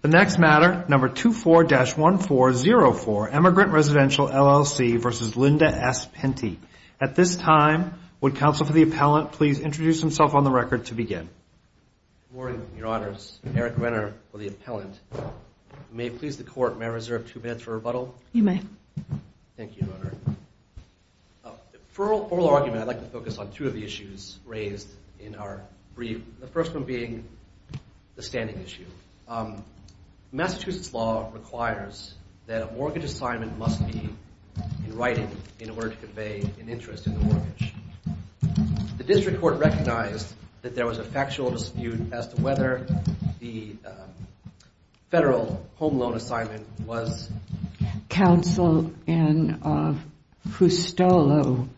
The next matter, number 24-1404, Emigrant Residential LLC v. Linda S. Pinti. At this time, would counsel for the appellant please introduce himself on the record to begin. Good morning, your honors. Eric Renner for the appellant. May it please the court, may I reserve two minutes for rebuttal? You may. Thank you, your honor. For oral argument, I'd like to focus on two of the issues raised in our brief. The first one being the standing issue. Massachusetts law requires that a mortgage assignment must be in writing in order to convey an interest in the mortgage. The district court recognized that there was a factual dispute as to whether the federal home loan assignment was... Counsel, in Fustolo,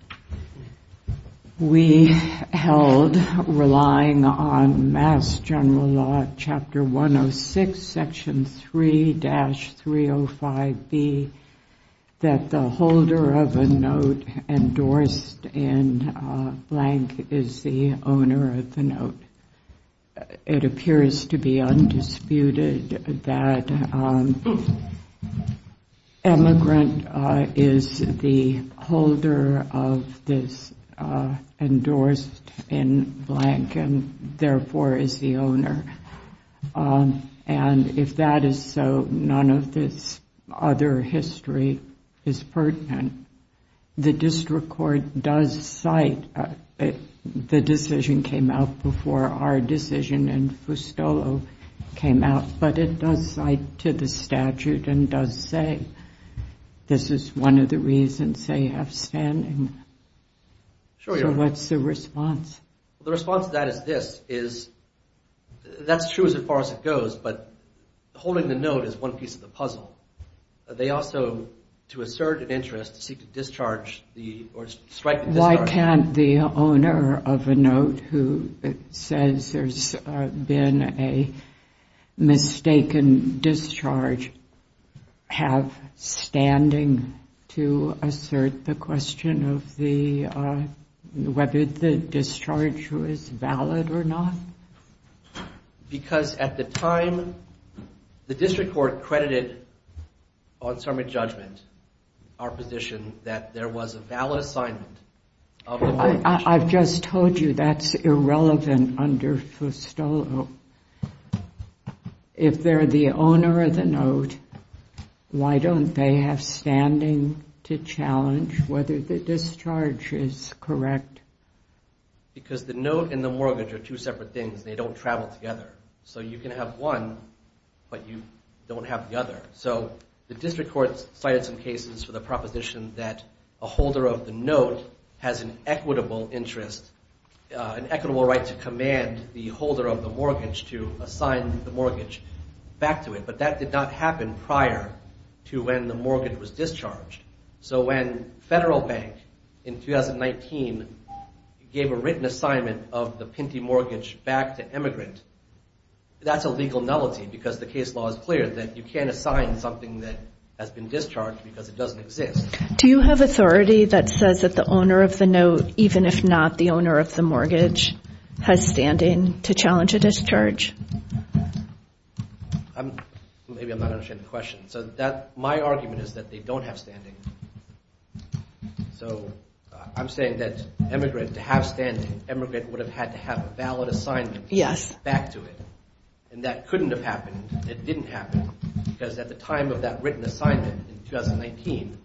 we held relying on Mass. General Law, Chapter 106, Section 3-305B, that the holder of a note endorsed in blank is the owner of the note. It appears to be undisputed that emigrant is the holder of this endorsed in blank and therefore is the owner. And if that is so, none of this other history is pertinent. The district court does cite the decision came out before our decision in Fustolo came out, but it does cite to the statute and does say this is one of the reasons they have standing. So what's the response? The response to that is this, is that's true as far as it goes, but holding the note is one piece of the puzzle. They also, to assert an interest, seek to discharge or strike the discharge. Why can't the owner of a note who says there's been a mistaken discharge have standing to assert the question of whether the discharge was valid or not? Because at the time, the district court credited on summary judgment our position that there was a valid assignment. I've just told you that's irrelevant under Fustolo. If they're the owner of the note, why don't they have standing to challenge whether the discharge is correct? Because the note and the mortgage are two separate things. They don't travel together. So you can have one, but you don't have the other. So the district court cited some cases for the proposition that a holder of the note has an equitable interest, an equitable right to command the holder of the mortgage to assign the mortgage back to it. But that did not happen prior to when the mortgage was discharged. So when Federal Bank in 2019 gave a written assignment of the Pinty mortgage back to emigrant, that's a legal nullity because the case law is clear that you can't assign something that has been discharged because it doesn't exist. Do you have authority that says that the owner of the note, even if not the owner of the mortgage, has standing to challenge a discharge? Maybe I'm not understanding the question. So my argument is that they don't have standing. So I'm saying that emigrant, to have standing, emigrant would have had to have a valid assignment back to it. And that couldn't have happened. It didn't happen because at the time of that written assignment in 2019,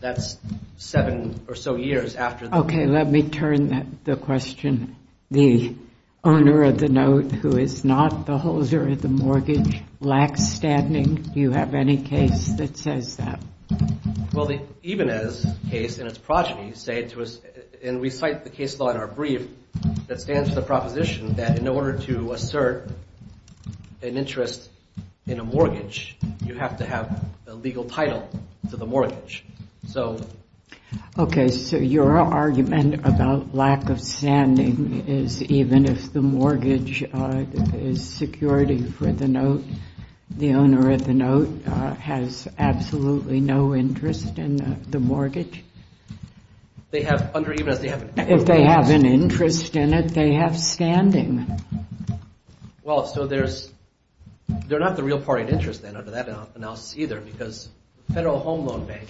that's seven or so years after. Okay, let me turn the question. The owner of the note who is not the holder of the mortgage lacks standing. Do you have any case that says that? Well, the Ibanez case and its progeny say to us, and we cite the case law in our brief, that stands to the proposition that in order to assert an interest in a mortgage, you have to have a legal title to the mortgage. Okay, so your argument about lack of standing is even if the mortgage is security for the note, the owner of the note has absolutely no interest in the mortgage? If they have an interest in it, they have standing. Well, so they're not the real party of interest then under that analysis either because the Federal Home Loan Bank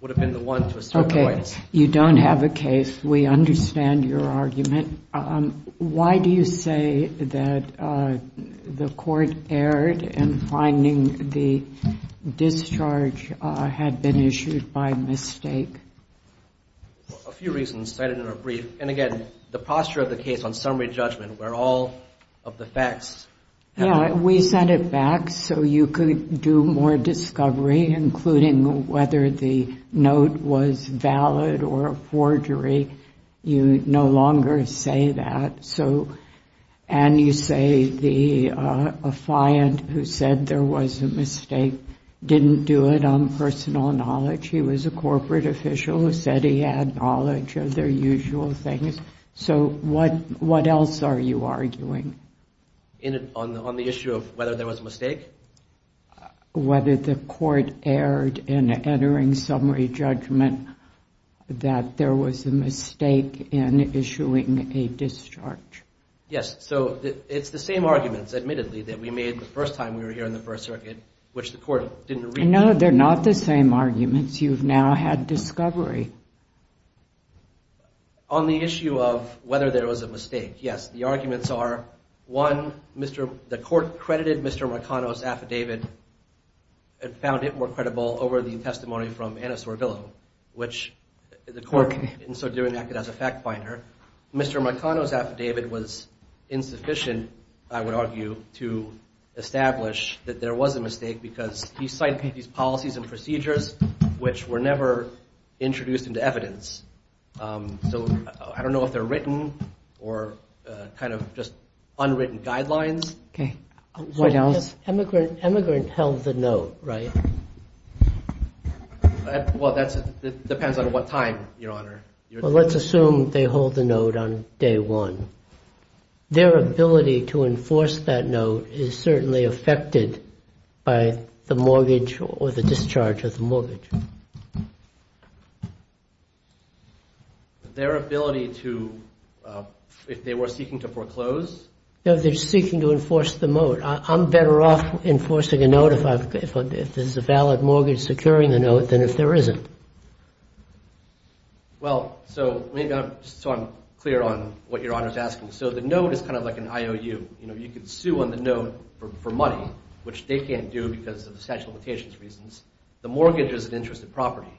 would have been the one to assert the rights. Okay, you don't have a case. We understand your argument. Why do you say that the court erred in finding the discharge had been issued by mistake? Well, a few reasons cited in our brief. And again, the posture of the case on summary judgment where all of the facts... Yeah, we sent it back so you could do more discovery, including whether the note was valid or a forgery. You no longer say that. And you say the affiant who said there was a mistake didn't do it on personal knowledge. He was a corporate official who said he had knowledge of their usual things. So what else are you arguing? On the issue of whether there was a mistake? Whether the court erred in entering summary judgment that there was a mistake in issuing a discharge. Yes, so it's the same arguments, admittedly, that we made the first time we were here in the First Circuit, which the court didn't read. No, they're not the same arguments. You've now had discovery. On the issue of whether there was a mistake, yes, the arguments are, one, the court credited Mr. Markano's affidavit and found it more credible over the testimony from Anna Sorvillo, which the court, in so doing, acted as a fact finder. Mr. Markano's affidavit was insufficient, I would argue, to establish that there was a mistake because he cited these policies and procedures, which were never introduced into evidence. So I don't know if they're written or kind of just unwritten guidelines. Okay. What else? Immigrant held the note, right? Well, that depends on what time, Your Honor. Well, let's assume they hold the note on day one. Their ability to enforce that note is certainly affected by the mortgage or the discharge of the mortgage. Their ability to, if they were seeking to foreclose? No, if they're seeking to enforce the note. I'm better off enforcing a note if there's a valid mortgage securing the note than if there isn't. Well, so maybe I'm clear on what Your Honor's asking. So the note is kind of like an IOU. You know, you can sue on the note for money, which they can't do because of the statute of limitations reasons. The mortgage is an interest of property.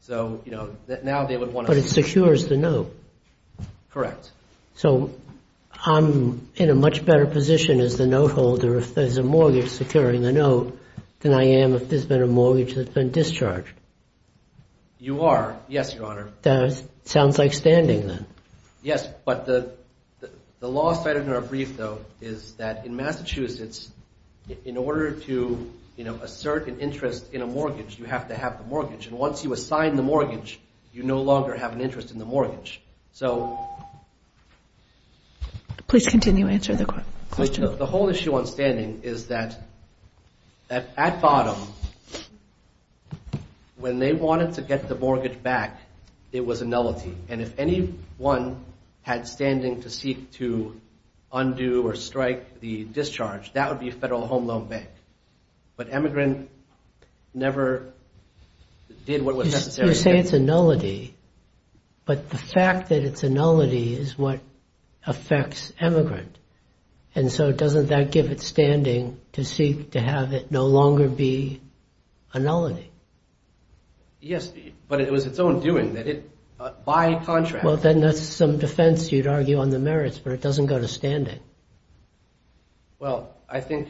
So, you know, now they would want to- But it secures the note. Correct. So I'm in a much better position as the note holder if there's a mortgage securing the note than I am if there's been a mortgage that's been discharged. You are. Yes, Your Honor. That sounds like standing, then. Yes, but the law stated in our brief, though, is that in Massachusetts, in order to, you know, assert an interest in a mortgage, you have to have the mortgage. And once you assign the mortgage, you no longer have an interest in the mortgage. So- Please continue. Answer the question. The whole issue on standing is that at bottom, when they wanted to get the mortgage back, it was a nullity. And if anyone had standing to seek to undo or strike the discharge, that would be Federal Home Loan Bank. But emigrant never did what was necessary. You say it's a nullity, but the fact that it's a nullity is what affects emigrant. And so doesn't that give it standing to seek to have it no longer be a nullity? Yes, but it was its own doing that it, by contract- Well, then that's some defense you'd argue on the merits, but it doesn't go to standing. Well, I think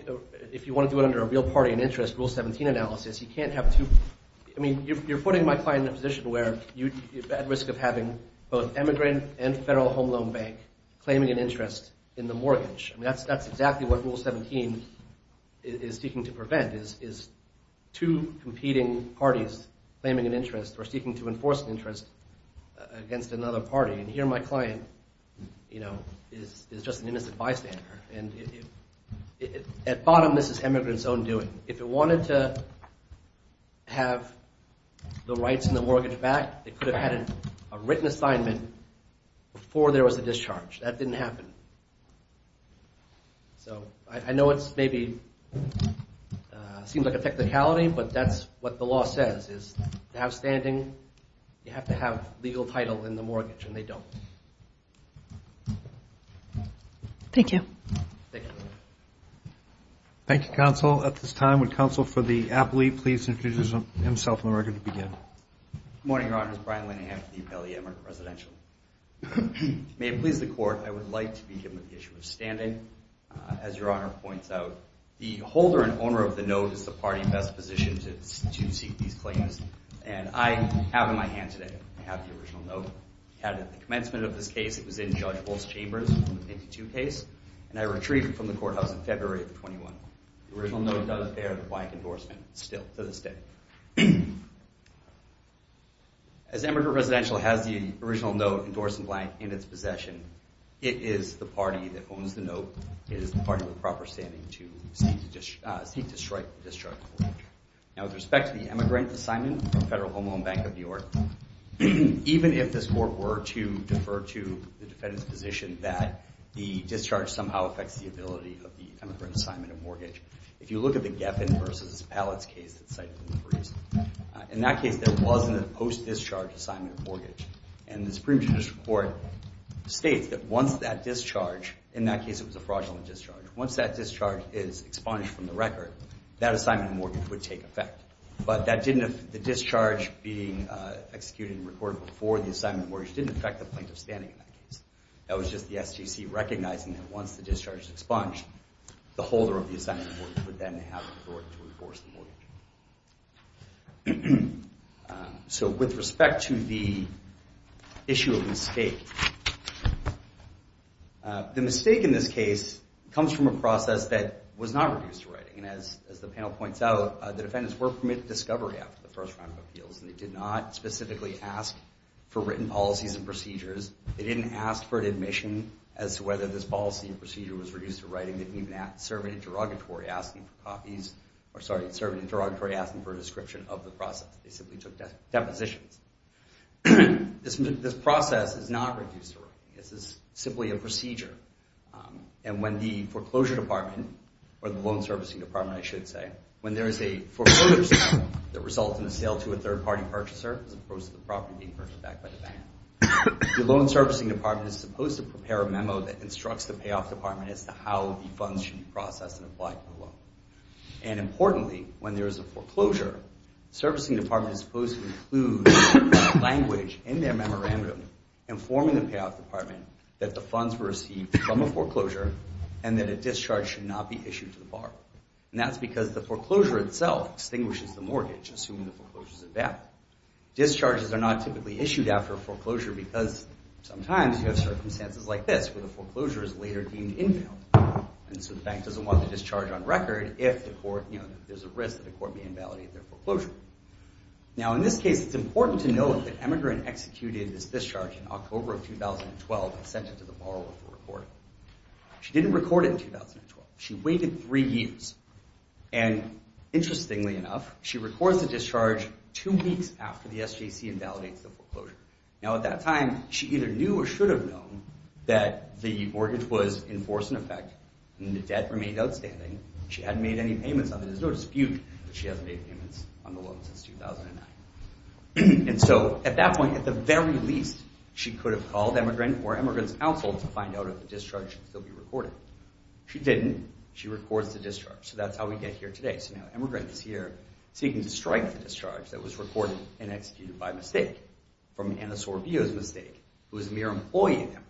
if you want to do it under a real party in interest, Rule 17 analysis, you can't have two- I mean, you're putting my client in a position where you're at risk of having both emigrant and Federal Home Loan Bank claiming an interest in the mortgage. I mean, that's exactly what Rule 17 is seeking to prevent, is two competing parties claiming an interest or seeking to enforce an interest against another party. And here my client, you know, is just an innocent bystander. And at bottom, this is emigrant's own doing. If it wanted to have the rights and the mortgage back, it could have had a written assignment before there was a discharge. That didn't happen. So I know it's maybe seems like a technicality, but that's what the law says, is to have standing, you have to have legal title in the mortgage, and they don't. Thank you. Thank you. Thank you, Counsel. At this time, would Counsel for the appellee please introduce himself and the record to begin? Good morning, Your Honors. Brian Linehan from the Appellee Emeritus Residential. May it please the Court, I would like to begin with the issue of standing. As Your Honor points out, the holder and owner of the note is the party best positioned to seek these claims. And I have in my hand today, I have the original note. I had it at the commencement of this case. It was in Judge Bull's chambers in the 1952 case. And I retrieved it from the courthouse in February of the 21. The original note does bear the blank endorsement still to this day. As the Emeritus Residential has the original note endorsed in blank in its possession, it is the party that owns the note. It is the party with proper standing to seek to strike the discharge. Now, with respect to the emigrant assignment from Federal Home Loan Bank of New York, even if this Court were to defer to the defendant's position that the discharge somehow affects the ability of the emigrant assignment and mortgage, if you look at the Geffen versus Palitz case that's cited in the briefs, in that case there wasn't a post-discharge assignment and mortgage. And the Supreme Judicial Court states that once that discharge, in that case it was a fraudulent discharge, once that discharge is expunged from the record, that assignment and mortgage would take effect. But the discharge being executed and recorded before the assignment and mortgage didn't affect the plaintiff's standing in that case. That was just the SGC recognizing that once the discharge is expunged, the holder of the assignment and mortgage would then have authority to enforce the mortgage. So with respect to the issue of mistake, the mistake in this case comes from a process that was not reduced to writing. And as the panel points out, the defendants were permitted discovery after the first round of appeals, and they did not specifically ask for written policies and procedures. They didn't ask for an admission as to whether this policy and procedure was reduced to writing. They didn't even serve an interrogatory asking for a description of the process. They simply took depositions. This process is not reduced to writing. This is simply a procedure. And when the foreclosure department, or the loan servicing department, I should say, when there is a foreclosure that results in a sale to a third-party purchaser as opposed to the property being purchased back by the bank, the loan servicing department is supposed to prepare a memo that instructs the payoff department as to how the funds should be processed and applied for the loan. And importantly, when there is a foreclosure, the servicing department is supposed to include language in their memorandum informing the payoff department that the funds were received from a foreclosure and that a discharge should not be issued to the bar. And that's because the foreclosure itself extinguishes the mortgage, assuming the foreclosure is invalid. Discharges are not typically issued after a foreclosure because sometimes you have circumstances like this where the foreclosure is later deemed invalid. And so the bank doesn't want the discharge on record if there's a risk that the court may invalidate their foreclosure. Now, in this case, it's important to note that emigrant executed this discharge in October of 2012 and sent it to the borrower for recording. She didn't record it in 2012. She waited three years. And interestingly enough, she records the discharge two weeks after the SJC invalidates the foreclosure. Now, at that time, she either knew or should have known that the mortgage was in force and effect and the debt remained outstanding. She hadn't made any payments on it. There's no dispute that she hasn't made payments on the loan since 2009. And so at that point, at the very least, she could have called emigrant or emigrant's counsel to find out if the discharge should still be recorded. She didn't. She records the discharge. So that's how we get here today. So now emigrant is here seeking to strike the discharge that was recorded and executed by mistake, from Anna Sorvio's mistake, who is a mere employee in Emory.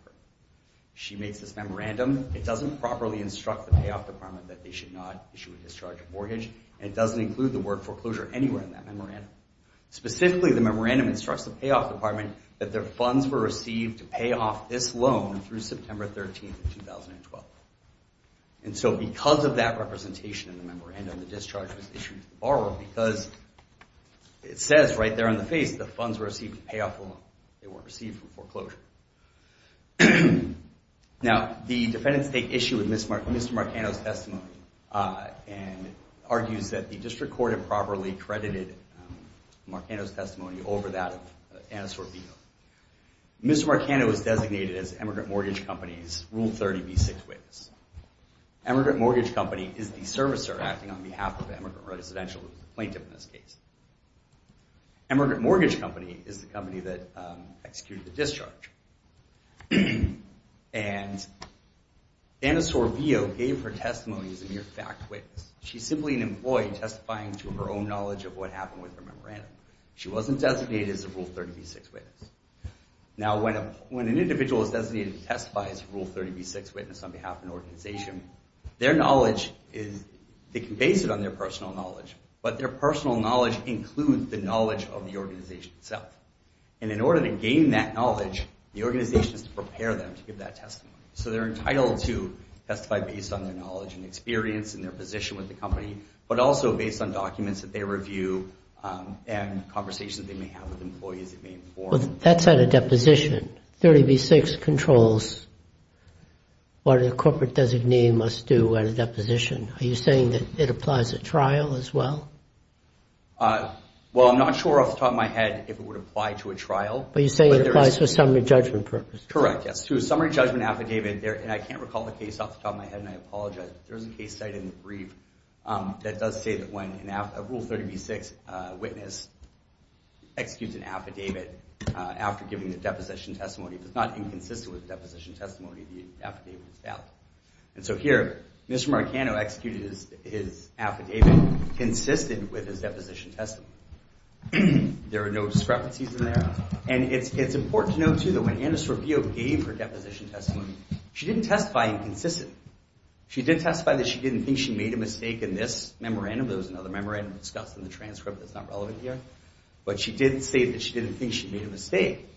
She makes this memorandum. It doesn't properly instruct the payoff department that they should not issue a discharge of mortgage, and it doesn't include the word foreclosure anywhere in that memorandum. Specifically, the memorandum instructs the payoff department that their funds were received to pay off this loan through September 13th of 2012. And so because of that representation in the memorandum, the discharge was issued to the borrower because it says right there on the face that funds were received to pay off the loan. They weren't received from foreclosure. Now, the defendants take issue with Mr. Marcano's testimony and argues that the district court improperly credited Marcano's testimony over that of Anna Sorvio. Mr. Marcano is designated as Emigrant Mortgage Company's Rule 30b6 witness. Emigrant Mortgage Company is the servicer acting on behalf of the emigrant residential plaintiff in this case. Emigrant Mortgage Company is the company that executed the discharge. And Anna Sorvio gave her testimony as a mere fact witness. She's simply an employee testifying to her own knowledge of what happened with her memorandum. She wasn't designated as a Rule 30b6 witness. Now, when an individual is designated to testify as a Rule 30b6 witness on behalf of an organization, their knowledge is, they can base it on their personal knowledge, but their personal knowledge includes the knowledge of the organization itself. And in order to gain that knowledge, the organization has to prepare them to give that testimony. So they're entitled to testify based on their knowledge and experience and their position with the company, but also based on documents that they review and conversations they may have with employees that may inform them. That's at a deposition. 30b6 controls what a corporate designee must do at a deposition. Are you saying that it applies at trial as well? Well, I'm not sure off the top of my head if it would apply to a trial. But you say it applies to a summary judgment purpose. Correct, yes. To a summary judgment affidavit, and I can't recall the case off the top of my head and I apologize, but there is a case cited in the brief that does say that when a Rule 30b6 witness executes an affidavit after giving the deposition testimony, if it's not inconsistent with the deposition testimony, the affidavit is out. And so here, Mr. Marcano executed his affidavit consistent with his deposition testimony. There are no discrepancies in there. And it's important to note, too, that when Anna Sorvio gave her deposition testimony, she didn't testify inconsistent. She did testify that she didn't think she made a mistake in this memorandum. There was another memorandum discussed in the transcript that's not relevant here. But she did say that she didn't think she made a mistake.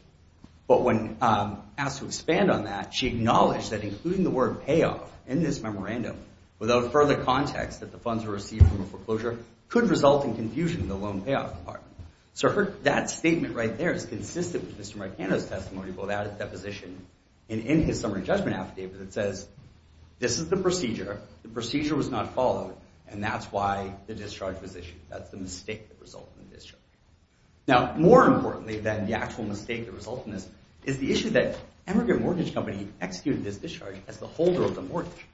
But when asked to expand on that, she acknowledged that including the word payoff in this memorandum without further context that the funds were received from a foreclosure could result in confusion in the loan payoff part. So that statement right there is consistent with Mr. Marcano's testimony about that deposition. And in his summary judgment affidavit, it says, this is the procedure, the procedure was not followed, and that's why the discharge was issued. That's the mistake that resulted in the discharge. Now, more importantly than the actual mistake that resulted in this is the issue that Emigrant Mortgage Company executed this discharge as the holder of the mortgage.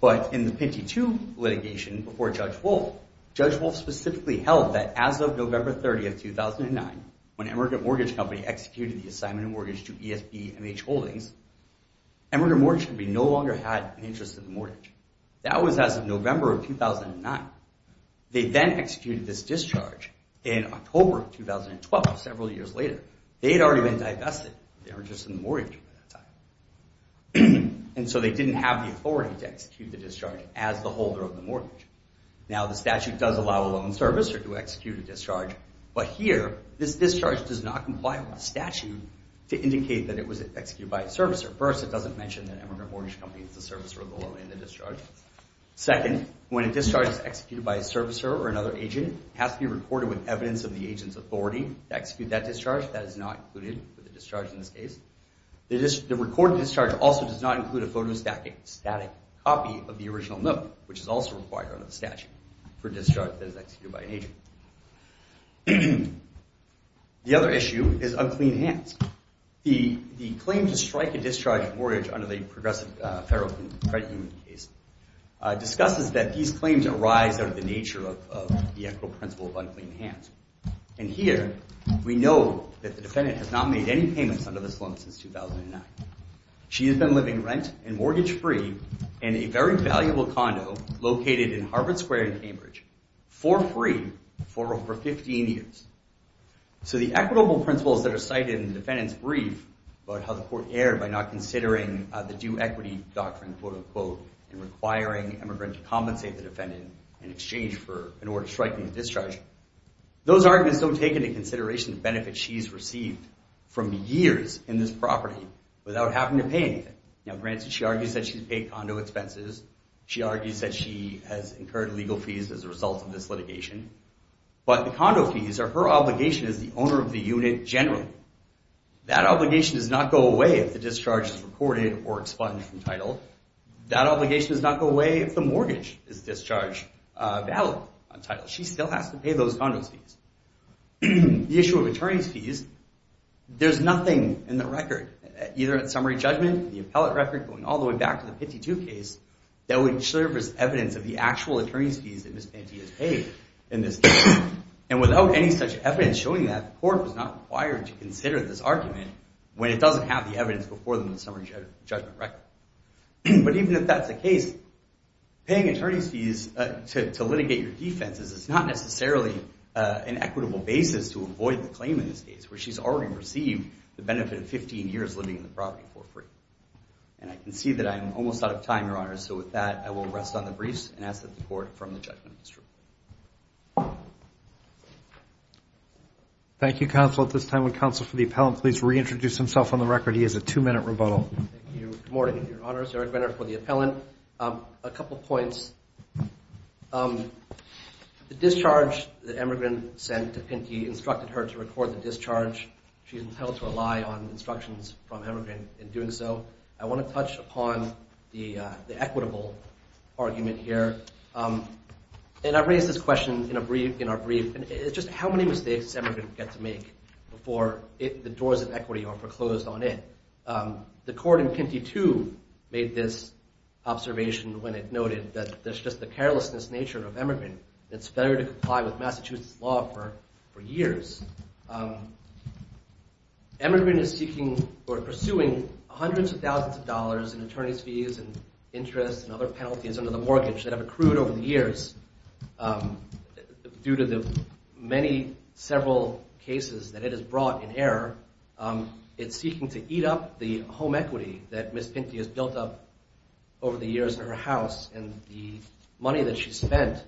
But in the Pinty II litigation before Judge Wolf, Judge Wolf specifically held that as of November 30, 2009, when Emigrant Mortgage Company executed the assignment of mortgage to ESBMH Holdings, Emigrant Mortgage Company no longer had an interest in the mortgage. That was as of November of 2009. They then executed this discharge in October 2012, several years later. They had already been divested. They were just in the mortgage at that time. And so they didn't have the authority to execute the discharge as the holder of the mortgage. Now, the statute does allow a loan servicer to execute a discharge, but here, this discharge does not comply with the statute to indicate that it was executed by a servicer. First, it doesn't mention that Emigrant Mortgage Company is the servicer of the loan and the discharge. Second, when a discharge is executed by a servicer or another agent, it has to be recorded with evidence of the agent's authority to execute that discharge. That is not included with the discharge in this case. The recorded discharge also does not include a photostatic copy of the original note, which is also required under the statute for a discharge that is executed by an agent. The other issue is unclean hands. The claim to strike a discharge mortgage under the Progressive Federal Credit Union case discusses that these claims arise out of the nature of the equitable principle of unclean hands. And here, we know that the defendant has not made any payments under this loan since 2009. She has been living rent- and mortgage-free in a very valuable condo located in Harvard Square in Cambridge for free for over 15 years. So the equitable principles that are cited in the defendant's brief about how the court erred by not considering the due equity doctrine and requiring Emigrant to compensate the defendant in exchange for an order striking the discharge, those arguments don't take into consideration the benefits she's received from years in this property without having to pay anything. Now, granted, she argues that she's paid condo expenses. She argues that she has incurred legal fees as a result of this litigation. But the condo fees are her obligation as the owner of the unit generally. That obligation does not go away if the discharge is recorded or expunged from title. That obligation does not go away if the mortgage is discharge valid on title. She still has to pay those condo fees. The issue of attorney's fees, there's nothing in the record, either at summary judgment, the appellate record, going all the way back to the 52 case, that would serve as evidence of the actual attorney's fees that Ms. Pantia has paid in this case. And without any such evidence showing that, the court was not required to consider this argument when it doesn't have the evidence before them in the summary judgment record. But even if that's the case, paying attorney's fees to litigate your defense is not necessarily an equitable basis to avoid the claim in this case, where she's already received the benefit of 15 years living in the property for free. And I can see that I'm almost out of time, Your Honor, so with that, I will rest on the briefs and ask that the court, from the judgment, withdraw. Thank you, Counsel. At this time, would Counsel for the Appellant please reintroduce himself on the record. He has a two-minute rebuttal. Thank you. Good morning, Your Honors. Eric Benner for the Appellant. A couple points. The discharge that Emmergreen sent to Pinty instructed her to record the discharge. She's entitled to rely on instructions from Emmergreen in doing so. I want to touch upon the equitable argument here. And I raised this question in our brief. It's just how many mistakes does Emmergreen get to make before the doors of equity are foreclosed on it? The court in Pinty, too, made this observation when it noted that there's just the carelessness nature of Emmergreen. It's fair to comply with Massachusetts law for years. Emmergreen is seeking or pursuing hundreds of thousands of dollars in attorney's fees and interest and other penalties under the mortgage that have accrued over the years due to the many several cases that it has brought in error. It's seeking to eat up the home equity that Ms. Pinty has built up over the years in her house and the money that she spent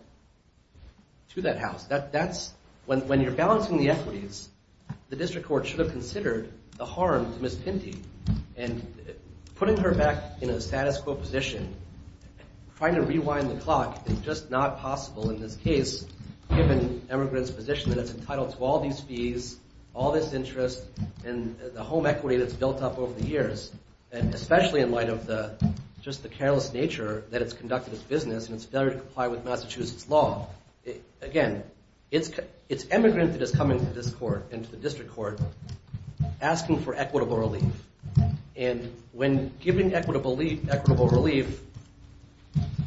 to that house. When you're balancing the equities, the district court should have considered the harm to Ms. Pinty. And putting her back in a status quo position, trying to rewind the clock is just not possible in this case given Emmergreen's position that it's entitled to all these fees, all this interest, and the home equity that's built up over the years, especially in light of just the careless nature that it's conducted its business and its failure to comply with Massachusetts law. Again, it's Emmergreen that is coming to this court and to the district court asking for equitable relief. And when giving equitable relief,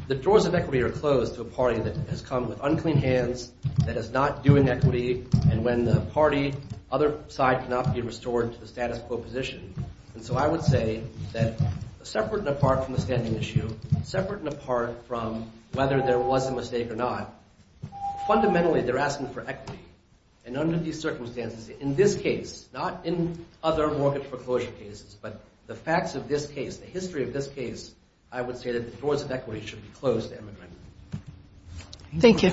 the doors of equity are closed to a party that has come with unclean hands, that is not doing equity, and when the party, other side, cannot be restored to the status quo position. And so I would say that separate and apart from the standing issue, separate and apart from whether there was a mistake or not, fundamentally they're asking for equity. And under these circumstances, in this case, not in other mortgage foreclosure cases, but the facts of this case, the history of this case, I would say that the doors of equity should be closed to Emmergreen. Thank you.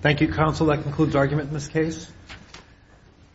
Thank you, counsel. That concludes argument in this case.